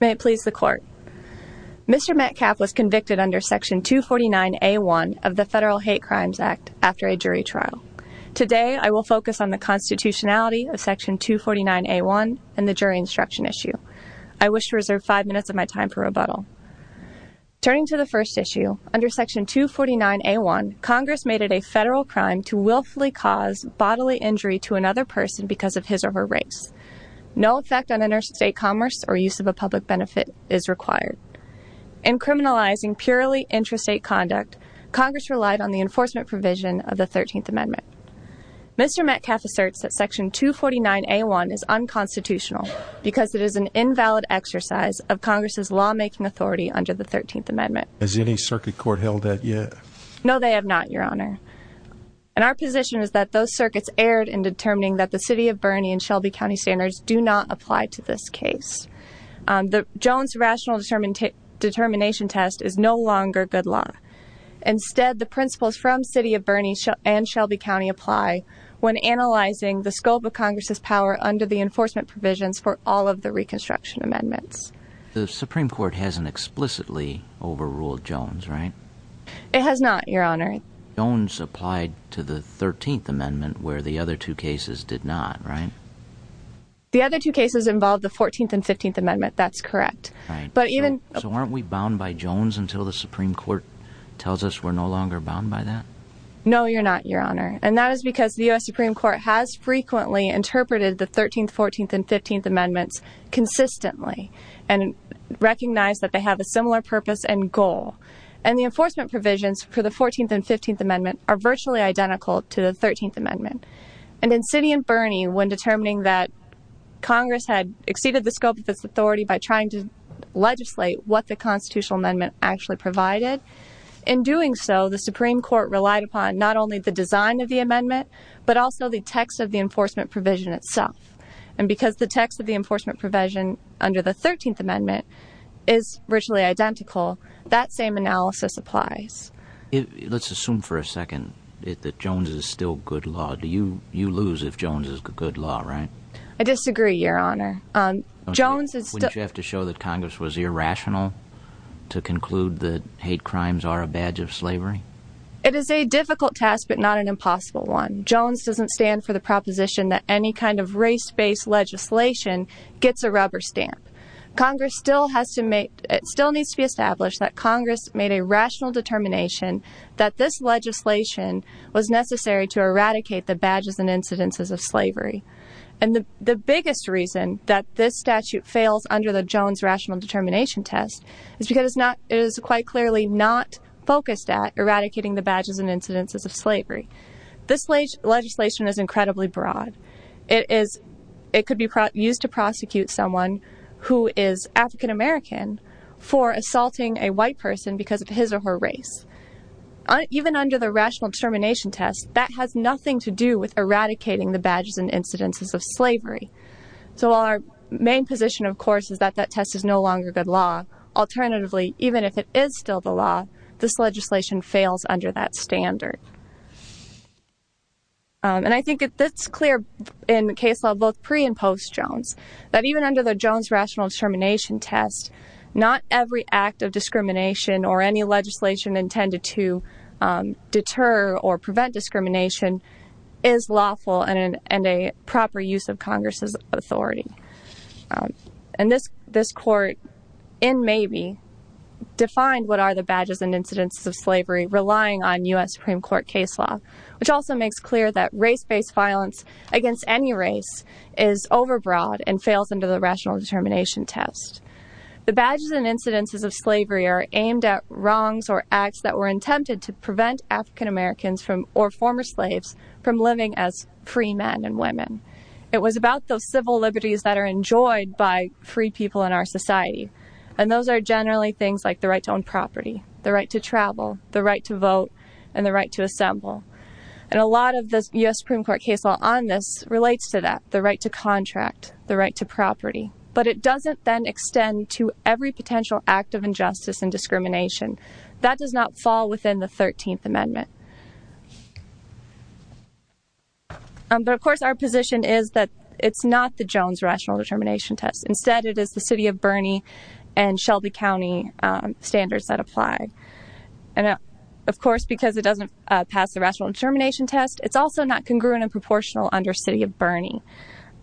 May it please the court. Mr. Metcalf was convicted under Section 249A1 of the Federal Hate Crimes Act after a jury trial. Today, I will focus on the constitutionality of Section 249A1 and the jury instruction issue. I wish to reserve 5 minutes of my time for rebuttal. Turning to the first issue, under Section 249A1, Congress made it a federal crime to willfully cause bodily injury to another person because of his or her race. No effect on interstate commerce or use of a public benefit is required. In criminalizing purely intrastate conduct, Congress relied on the enforcement provision of the 13th Amendment. Mr. Metcalf asserts that Section 249A1 is unconstitutional because it is an invalid exercise of Congress's lawmaking authority under the 13th Amendment. Has any circuit The proposition is that those circuits erred in determining that the City of Bernie and Shelby County standards do not apply to this case. The Jones Rational Determination Test is no longer good law. Instead, the principles from City of Bernie and Shelby County apply when analyzing the scope of Congress's power under the enforcement provisions for all of the Reconstruction Amendments. The Supreme Court hasn't explicitly overruled Jones, right? It has not, Your Honor. Jones applied to the 13th Amendment, where the other two cases did not, right? The other two cases involved the 14th and 15th Amendments, that's correct. So aren't we bound by Jones until the Supreme Court tells us we're no longer bound by that? No, you're not, Your Honor. And that is because the U.S. Supreme Court has frequently interpreted the 13th, 14th, and 15th Amendments consistently and recognized that they have a similar purpose and goal. And the enforcement provisions for the 14th and 15th Amendments are virtually identical to the 13th Amendment. And in City and Bernie, when determining that Congress had exceeded the scope of its authority by trying to legislate what the Constitutional Amendment actually provided, in doing so, the Supreme Court relied upon not only the design of the Amendment, but also the text of the enforcement provision itself. And because the text of the enforcement provision under the 13th Amendment is virtually identical, that same analysis applies. Let's assume for a second that Jones is still good law. You lose if Jones is good law, right? I disagree, Your Honor. Wouldn't you have to show that Congress was irrational to conclude that hate crimes are a badge of slavery? It is a difficult task, but not an impossible one. Jones doesn't stand for the proposition that any kind of race-based legislation gets a rubber stamp. It still needs to be established that Congress made a rational determination that this legislation was necessary to eradicate the badges and incidences of slavery. And the biggest reason that this statute fails under the Jones Rational Determination Test is because it is quite clearly not focused at eradicating the badges and incidences of slavery. This legislation is incredibly broad. It could be used to prosecute someone who is African American for assaulting a white person because of his or her race. Even under the Rational Determination Test, that has nothing to do with eradicating the badges and incidences of slavery. So while our main position, of course, is that that test is no longer good law, alternatively, even if it is still the law, this legislation fails under that standard. And I think it's clear in case law both pre- and post-Jones, that even under the Jones Rational Determination Test, not every act of discrimination or any legislation intended to deter or prevent discrimination is lawful and a proper use of Congress's authority. And this court, in maybe, defined what are the badges and incidences of slavery relying on U.S. Supreme Court case law, which also makes clear that race-based violence against any race is overbroad and fails under the Rational Determination Test. The badges and incidences of slavery are aimed at wrongs or acts that were attempted to prevent African Americans or former slaves from living as free men and women. It was about those civil liberties that are enjoyed by free people in our society. And those are generally things like the right to own property, the right to travel, the right to vote, and the right to assemble. And a lot of the U.S. Supreme Court case law on this relates to that, the right to contract, the right to property. But it doesn't then extend to every potential act of injustice and discrimination. That does not fall within the 13th Amendment. But of course our position is that it's not the Jones Rational Determination Test. Instead it is the City of Bernie and Shelby County standards that apply. And of course because it doesn't pass the Rational Determination Test, it's also not congruent and proportional under City of Bernie.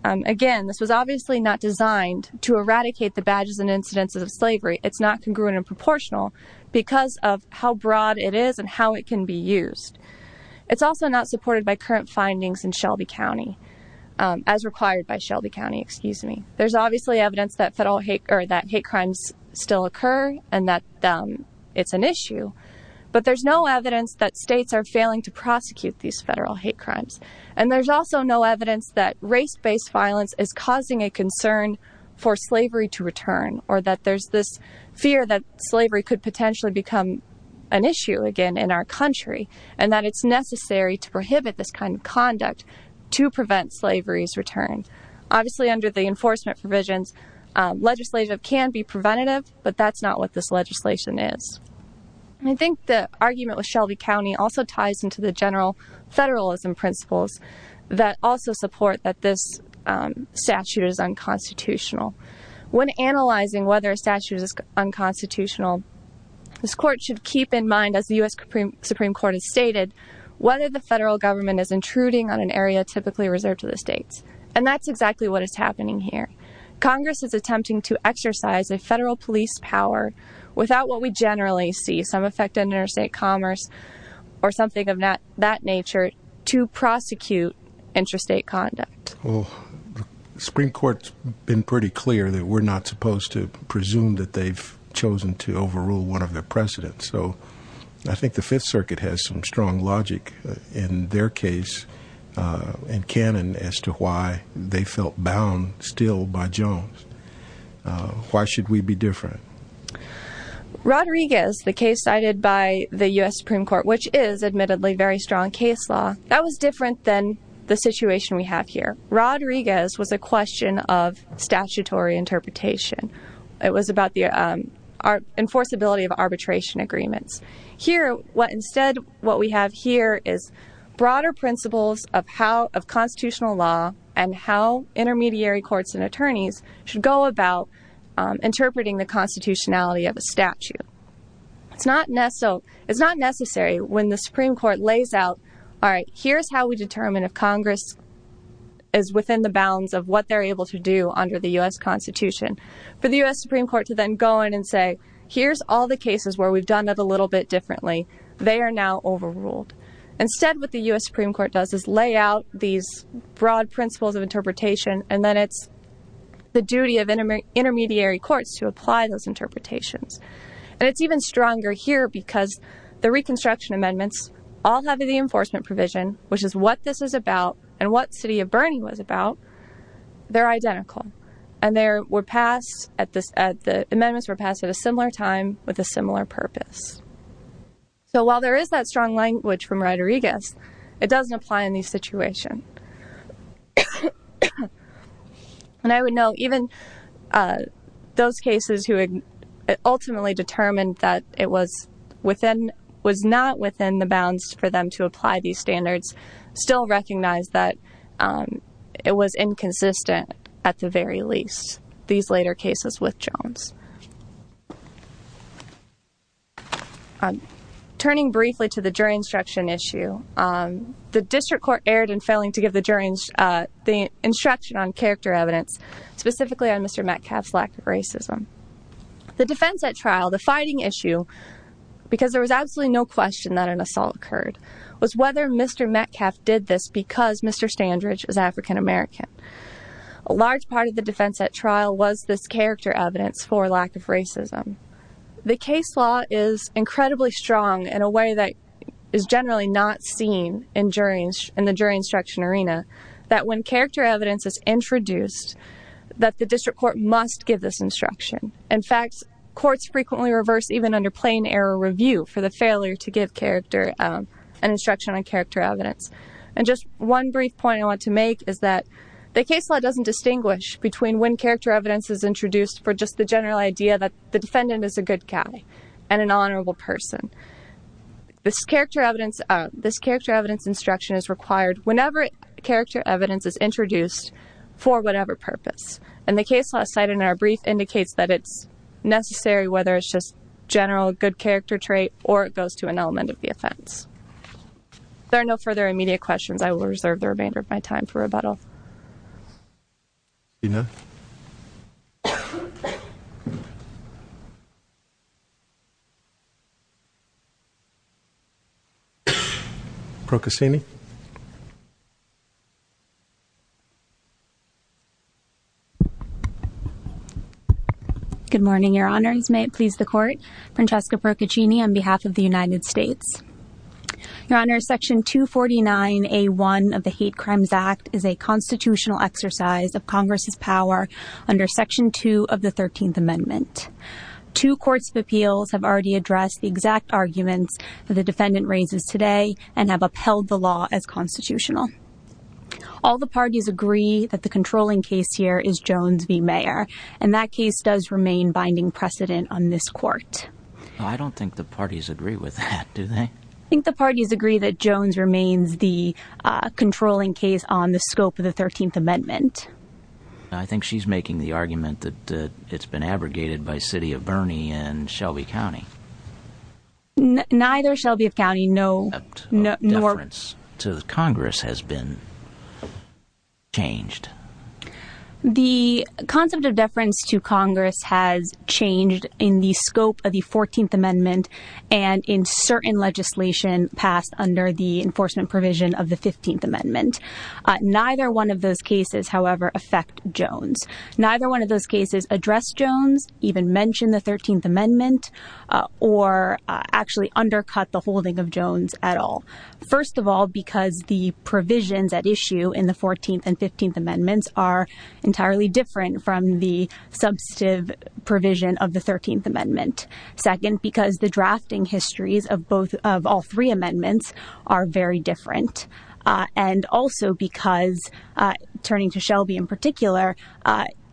Again, this was obviously not designed to eradicate the badges and incidences of slavery. It's not congruent and proportional because of how broad it is and how it can be used. It's also not supported by current findings in Shelby County, as required by Shelby County, excuse me. There's obviously evidence that hate crimes still occur and that it's an issue. But there's no evidence that states are failing to prosecute these federal hate crimes. And there's also no evidence that race-based violence is causing a concern for slavery to return, or that there's this fear that slavery could potentially become an issue again in our country, and that it's necessary to prohibit this kind of conduct to prevent slavery's return. Obviously under the enforcement provisions, legislation can be preventative, but that's not what this legislation is. I think the argument with Shelby County also ties into the general federalism principles that also support that this statute is unconstitutional. When analyzing whether a statute is unconstitutional, this court should keep in mind, as the U.S. Supreme Court has stated, whether the federal government is intruding on an area typically reserved to the states. And that's exactly what is happening here. Congress is attempting to exercise a federal police power without what we generally see, some effect on interstate commerce or something of that nature, to prosecute interstate conduct. Well, the Supreme Court's been pretty clear that we're not supposed to presume that they've chosen to overrule one of their precedents. So I think the Fifth Circuit has some strong logic in their case, and canon, as to why they felt bound still by Jones. Why should we be different? Rodriguez, the case cited by the U.S. Supreme Court, which is, admittedly, a very strong case law, that was different than the situation we have here. Rodriguez was a question of statutory interpretation. It was about the enforceability of arbitration agreements. Instead, what we have here is broader principles of constitutional law and how intermediary courts and attorneys should go about interpreting the constitutionality of a statute. It's not necessary when the Supreme Court lays out, here's how we determine if Congress is within the bounds of what they're able to do under the U.S. Constitution, for the U.S. Supreme Court to then go in and say, here's all the cases where we've done it a little bit differently. They are now overruled. Instead, what the U.S. Supreme Court does is lay out these broad principles of interpretation, and then it's the duty of intermediary courts to apply those because the Reconstruction Amendments all have the enforcement provision, which is what this is about and what City of Birney was about. They're identical. The amendments were passed at a similar time with a similar purpose. While there is that strong language from Rodriguez, it doesn't apply in these situations. I would know even those cases who ultimately determined that it was not within the bounds for them to apply these standards still recognize that it was inconsistent at the very least, these later cases with Jones. Turning briefly to the jury instruction issue, the District Court erred in failing to give the instruction on character evidence, specifically on Mr. Metcalfe's lack of racism. The defense at trial, the fighting issue, because there was absolutely no question that an assault occurred, was whether Mr. Metcalfe did this because Mr. Standridge is African American. A large part of the defense at trial was this character evidence for lack of racism. The case law is incredibly strong in a way that is generally not seen in the jury instruction arena, that when character evidence is introduced, that the District Court must give this instruction. In fact, courts frequently reverse even under plain error review for the failure to give character and instruction on character evidence. One brief point I want to make is that the case law doesn't distinguish between when character evidence is introduced for just the general idea that the defendant is a good guy and an honorable person. This character evidence instruction is required whenever character evidence is introduced for whatever purpose. And the case law cited in our brief indicates that it's necessary whether it's just general good character trait or it goes to an element of the offense. There are no further immediate questions. I will reserve the remainder of my time for rebuttal. Procaccini. Good morning, Your Honors. May it please the Court. Francesca Procaccini on behalf of the United States. Your Honors, Section 249A1 of the Hate Crimes Act is a constitutional exercise of Congress's power under Section 2 of the 13th Amendment. Two courts of appeals have already addressed the exact arguments that the defendant raises today and have upheld the law as constitutional. All the parties agree that the controlling case here is Jones v. Mayer, and that case does remain binding precedent on this Court. I don't think the parties agree with that, do they? I think the parties agree that Jones remains the controlling case on the scope of the 13th Amendment. I think she's making the argument that it's been abrogated by City of Burney and Shelby County. Neither Shelby County, no, no, no. The concept of deference to Congress has been changed. The concept of deference to Congress has changed in the scope of the 14th Amendment and in certain legislation passed under the enforcement provision of the 15th Amendment. Neither one of those cases, however, affect Jones. Neither one of those cases address Jones, even mention the 13th Amendment, or actually undercut the holding of Jones at all. First of all, because the provisions at issue in the 14th and 15th Amendments are entirely different from the substantive provision of the 13th Amendment. Second, because the drafting histories of all three amendments are very different. And also because, turning to Shelby in particular,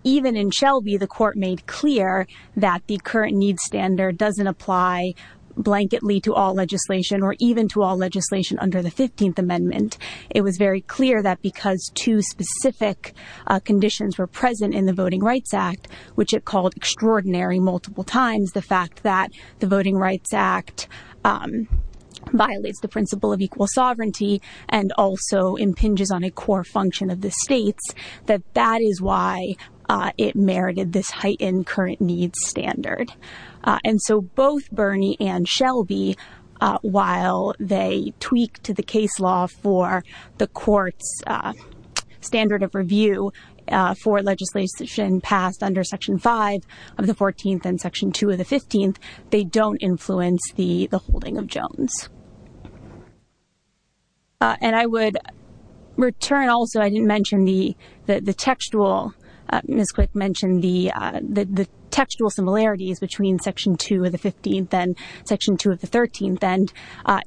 even in Shelby the court made clear that the current need standard doesn't apply blanketly to all legislation or even to all legislation under the 15th Amendment. It was very clear that because two specific conditions were present in the Voting Rights Act, which it called extraordinary multiple times, the fact that the Voting Rights Act violates the principle of equal sovereignty and also impinges on a core function of the states, that that is why it merited this heightened current need standard. And so both Bernie and Shelby, while they tweaked the case law for the court's standard of review for legislation passed under Section 5 of the 14th and Section 2 of the 15th, they don't influence the holding of Jones. And I would return also, I didn't mention the textual, Ms. Quick mentioned the textual similarities between Section 2 of the 15th and Section 2 of the 13th, and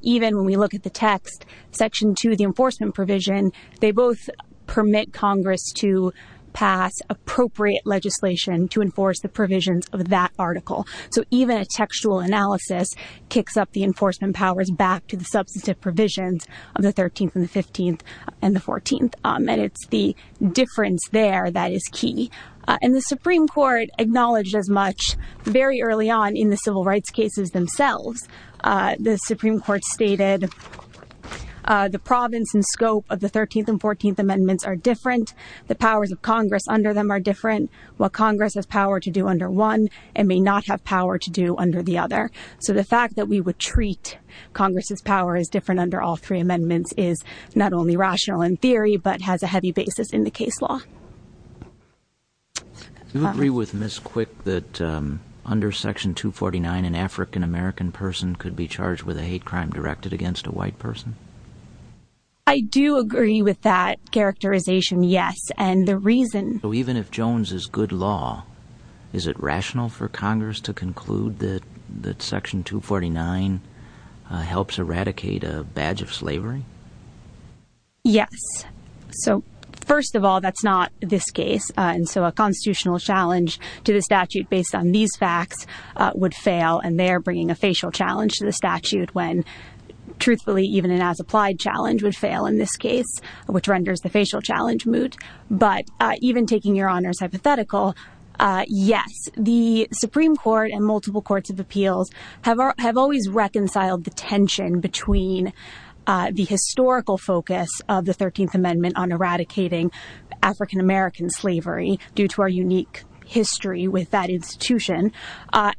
even when we look at the text, Section 2, the enforcement provision, they both permit Congress to pass appropriate legislation to enforce the provisions of that article. So even a textual analysis kicks up the enforcement powers back to the substantive provisions of the 13th and the 15th and the 14th, and it's the difference there that is key. And the Supreme Court acknowledged as much very early on in the civil rights cases themselves. The Supreme Court stated the province and scope of the 13th and 14th Amendments are different. The powers of Congress under them are different. While Congress has power to do under one, it may not have power to do under the other. So the fact that we would treat Congress's power as different under all three amendments is not only rational in theory, but has a heavy basis in the case law. Do you agree with Ms. Quick that under Section 249, an African-American person could be charged with a hate crime directed against a white person? I do agree with that characterization, yes. So even if Jones is good law, is it rational for Congress to conclude that Section 249 helps eradicate a badge of slavery? Yes. So first of all, that's not this case. And so a constitutional challenge to the statute based on these facts would fail. And they're bringing a facial challenge to the statute when truthfully, even an as-applied challenge would fail in this case, which renders the facial challenge moot. But even taking your honors hypothetical, yes, the Supreme Court and multiple courts of appeals have always reconciled the tension between the historical focus of the 13th Amendment on eradicating African-American slavery due to our unique history with that institution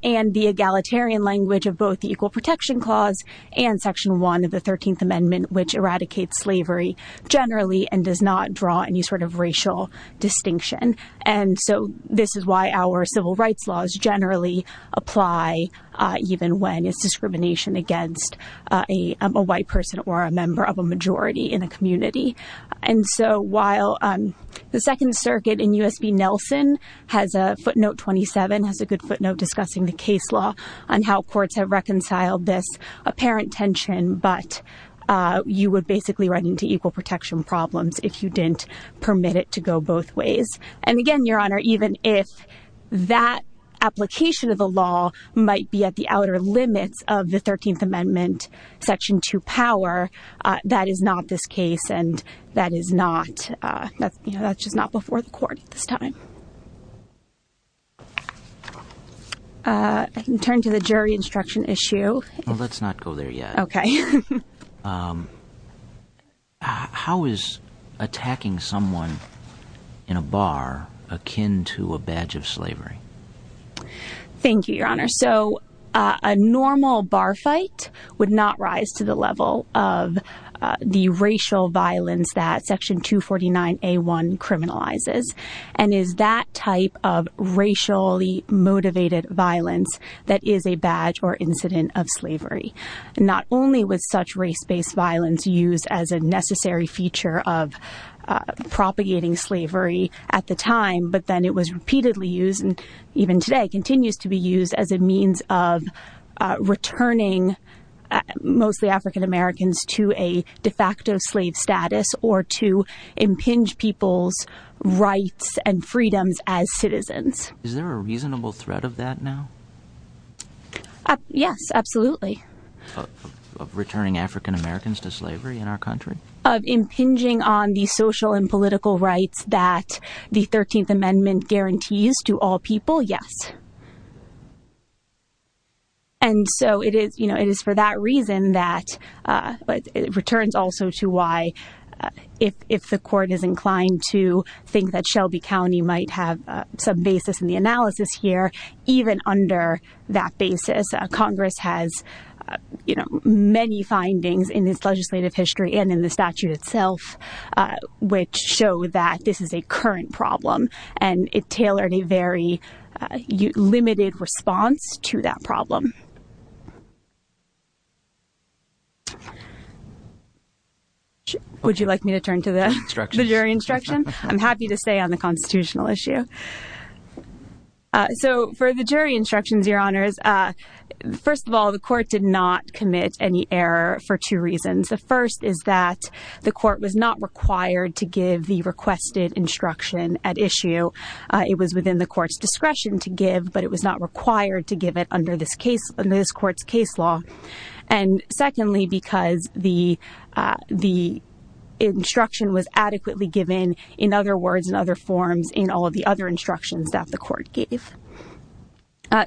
and the egalitarian language of both the Equal Protection Clause and Section 1 of the 13th which eradicates slavery generally and does not draw any sort of racial distinction. And so this is why our civil rights laws generally apply even when it's discrimination against a white person or a member of a majority in a community. And so while the Second Circuit in U.S. v. Nelson has a footnote 27, has a good footnote discussing the case law on how courts have reconciled this apparent tension, but you would basically run into equal protection problems if you didn't permit it to go both ways. And again, your honor, even if that application of the law might be at the outer limits of the 13th Amendment, Section 2 power, that is not this case and that is not, that's just not before the court at this time. I can turn to the jury instruction issue. Well, let's not go there yet. Okay. How is attacking someone in a bar akin to a badge of slavery? Thank you, your honor. So a normal bar fight would not rise to the level of the racial violence that Section 249A1 criminalizes and is that type of racially motivated violence that is a badge or incident of slavery. Not only was such race-based violence used as a necessary feature of propagating slavery at the time, but then it was repeatedly used and even today continues to be used as a means of returning mostly African-Americans to a de facto slave status or to impinge people's rights and freedoms as citizens. Is there a reasonable threat of that now? Yes, absolutely. Of returning African-Americans to slavery in our country? Of impinging on the social and political rights that the 13th Amendment guarantees to all people? Yes. And so it is, you know, it is for that reason that it returns also to why if the court is inclined to think that Shelby County might have some basis in the analysis here, even under that basis, Congress has, you know, many findings in its legislative history and in the statute itself, which show that this is a current problem and it tailored a very limited response to that problem. Would you like me to turn to the jury instruction? I'm happy to stay on the constitutional issue. So for the jury instructions, Your Honors, first of all, the court did not commit any error for two reasons. The first is that the court was not required to give the requested instruction at issue. It was within the court's discretion to give, but it was not required to give it under this case, under this court's case law. And secondly, because the instruction was adequately given in other words and other forms in all of the other instructions that the court gave.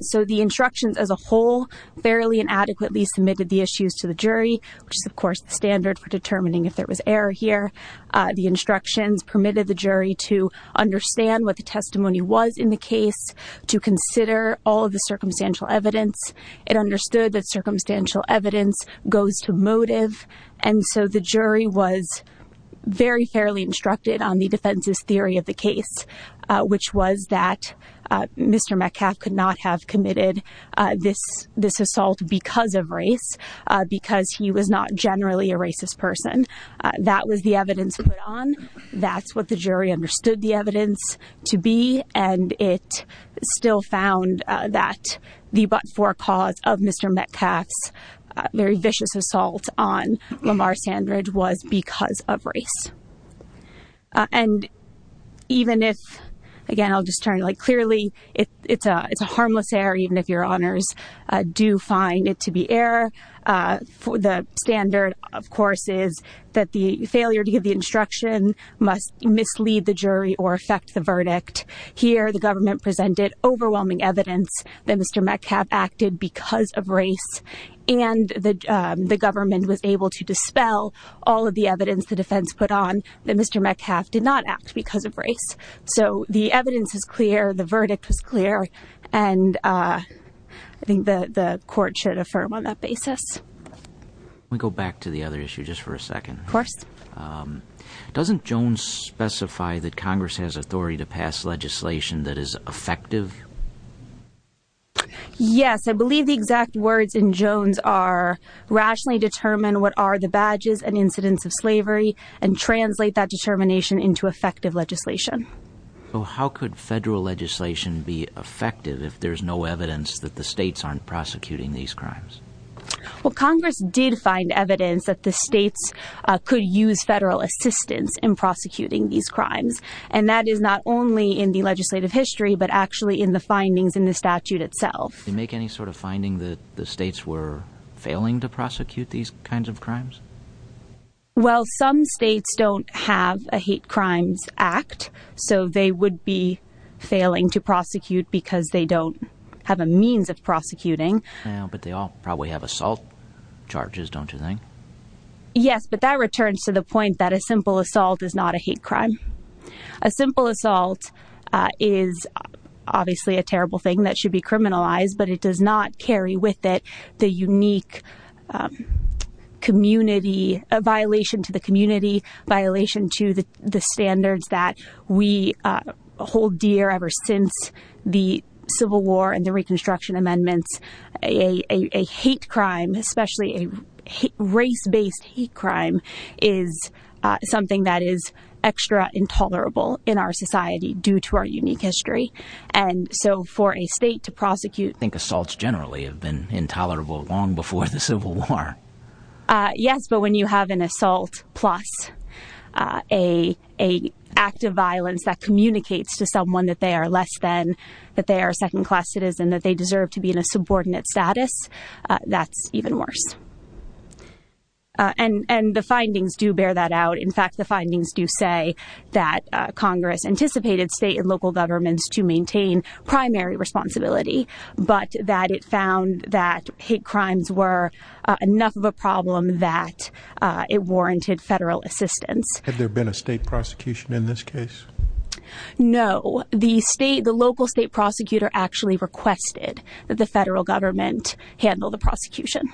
So the instructions as a whole fairly and adequately submitted the issues to the jury, which is of course the standard for determining if there was error here. The instructions permitted the jury to understand what the testimony was in the case, to consider all of the circumstantial evidence. It understood that circumstantial evidence goes to motive. And so the jury was very fairly instructed on the defense's theory of the case, which was that Mr. Metcalf could not have committed this assault because of race, because he was not generally a racist person. That was the evidence put on. That's what the jury understood the evidence to be. And it still found that the but-for cause of Mr. Metcalf's very vicious assault on Lamar Sandridge was because of race. And even if, again I'll just turn it like clearly, it's a harmless error even if your honors do find it to be error. The standard of course is that the failure to give the instruction must mislead the jury or affect the verdict. Here the government presented overwhelming evidence that Mr. Metcalf acted because of on, that Mr. Metcalf did not act because of race. So the evidence is clear, the verdict was clear, and I think the court should affirm on that basis. Let me go back to the other issue just for a second. Of course. Doesn't Jones specify that Congress has authority to pass legislation that is effective? Yes, I believe the exact words in Jones are, rationally determine what are the badges and incidents of slavery, and translate that determination into effective legislation. How could federal legislation be effective if there's no evidence that the states aren't prosecuting these crimes? Well, Congress did find evidence that the states could use federal assistance in prosecuting these crimes. And that is not only in the legislative history, but actually in the findings in the statute itself. Do you make any sort of finding that the states were failing to prosecute these kinds of crimes? Well, some states don't have a hate crimes act, so they would be failing to prosecute because they don't have a means of prosecuting. Yeah, but they all probably have assault charges, don't you think? Yes, but that returns to the point that a simple assault is not a hate crime. A simple assault is obviously a terrible thing that should be criminalized, but it does not carry with it the unique community, a violation to the community, violation to the standards that we hold dear ever since the Civil War and the Reconstruction Amendments. A hate crime, especially a race-based hate crime, is something that is extra intolerable in our society due to our unique history. And so for a state to prosecute... I think assaults generally have been intolerable long before the Civil War. Yes, but when you have an assault plus a act of violence that communicates to someone that they are less than, that they are a second class citizen, that they deserve to be in a subordinate status, that's even worse. And the findings do bear that out. In fact, the findings do say that Congress anticipated state and local governments to maintain primary responsibility, but that it found that hate crimes were enough of a problem that it warranted federal assistance. Had there been a state prosecution in this case? No. The local state prosecutor actually requested that the federal government handle the prosecution.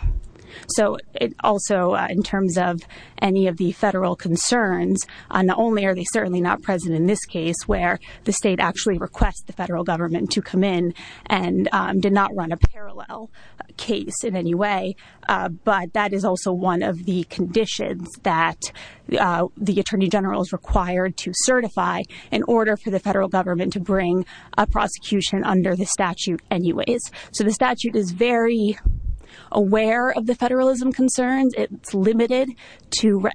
So also in terms of any of the federal concerns, not only are they certainly not present in this case where the state actually requests the federal government to come in and did not run a parallel case in any way, but that is also one of the conditions that the Attorney General is required to certify in order for the federal government to bring a prosecution under the statute anyways. So the statute is very aware of the federalism concerns. It's limited to...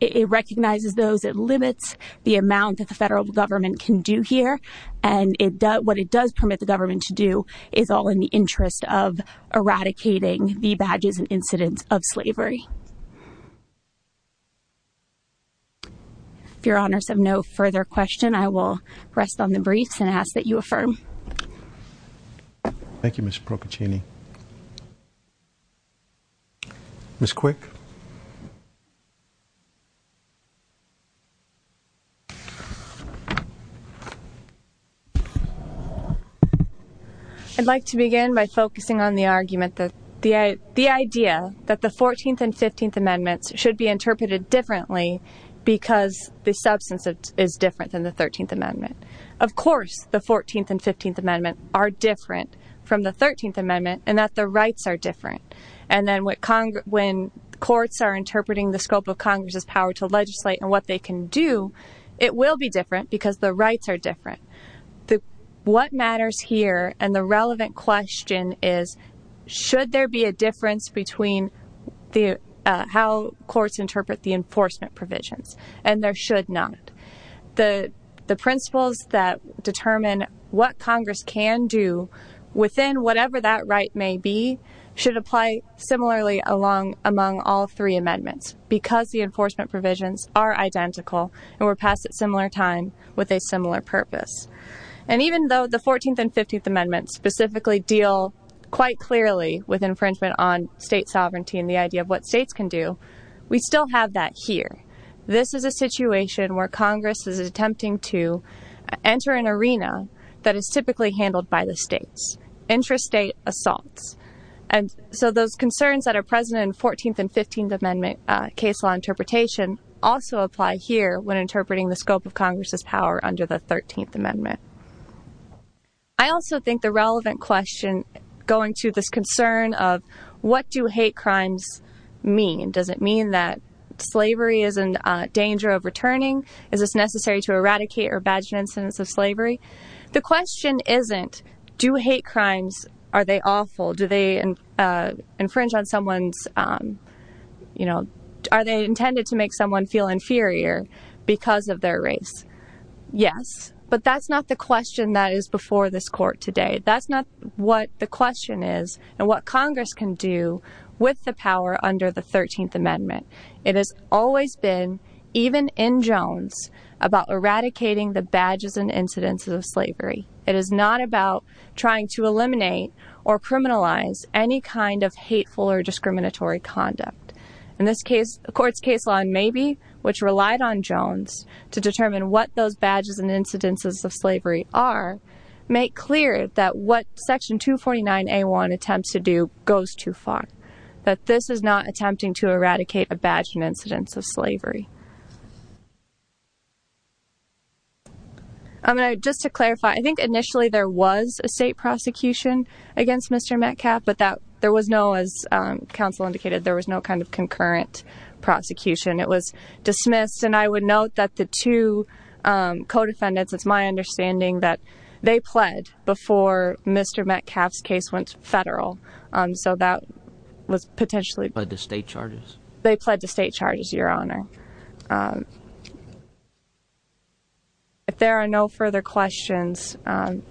It recognizes those, it limits the amount that the federal government can do here. And what it does permit the government to do is all in the interest of eradicating the If your honors have no further question, I will rest on the briefs and ask that you affirm. Thank you, Ms. Procaccini. Ms. Quick. I'd like to begin by focusing on the argument that the idea that the 14th and 15th amendments should be interpreted differently because the substance is different than the 13th amendment. Of course, the 14th and 15th amendment are different from the 13th amendment and that the rights are different. And then when courts are interpreting the scope of Congress's power to legislate and what they can do, it will be different because the rights are different. What matters here and the relevant question is, should there be a difference between how courts interpret the enforcement provisions? And there should not. The principles that determine what Congress can do within whatever that right may be should apply similarly among all three amendments because the enforcement provisions are identical and were passed at similar time with a similar purpose. And even though the 14th and 15th amendments specifically deal quite clearly with infringement on state sovereignty and the idea of what states can do, we still have that here. This is a situation where Congress is attempting to enter an arena that is typically handled by the states, intrastate assaults. And so those concerns that are present in 14th and 15th amendment case law interpretation also apply here when interpreting the scope of Congress's power under the 13th amendment. I also think the relevant question going to this concern of what do hate crimes mean? Does it mean that slavery is in danger of returning? Is this necessary to eradicate or badge incidents of slavery? The question isn't, do hate crimes, are they awful? Do they infringe on someone's, um, you know, are they intended to make someone feel inferior because of their race? Yes. But that's not the question that is before this court today. That's not what the question is and what Congress can do with the power under the 13th amendment. It has always been, even in Jones, about eradicating the badges and incidents of slavery. It is not about trying to eliminate or criminalize any kind of hateful or discriminatory conduct. In this case, the court's case law in Mabee, which relied on Jones to determine what those badges and incidences of slavery are, make clear that what section 249A1 attempts to do goes too far. That this is not attempting to eradicate a badge and incidents of slavery. I'm going to, just to clarify, I think initially there was a state prosecution against Mr. Metcalf, but that there was no, as counsel indicated, there was no kind of concurrent prosecution. It was dismissed. And I would note that the two, um, co-defendants, it's my understanding that they pled before Mr. Metcalf's case went federal. So that was potentially- Pled to state charges. They pled to state charges, Your Honor. Um, if there are no further questions, um,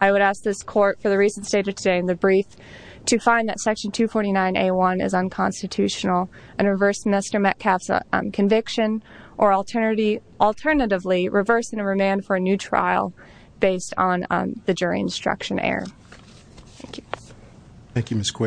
I would ask this court for the reasons stated today in the brief to find that section 249A1 is unconstitutional and reverse Mr. Metcalf's conviction or alternatively reverse and remand for a new trial based on the jury instruction error. Thank you. Thank you, Ms. Quigley.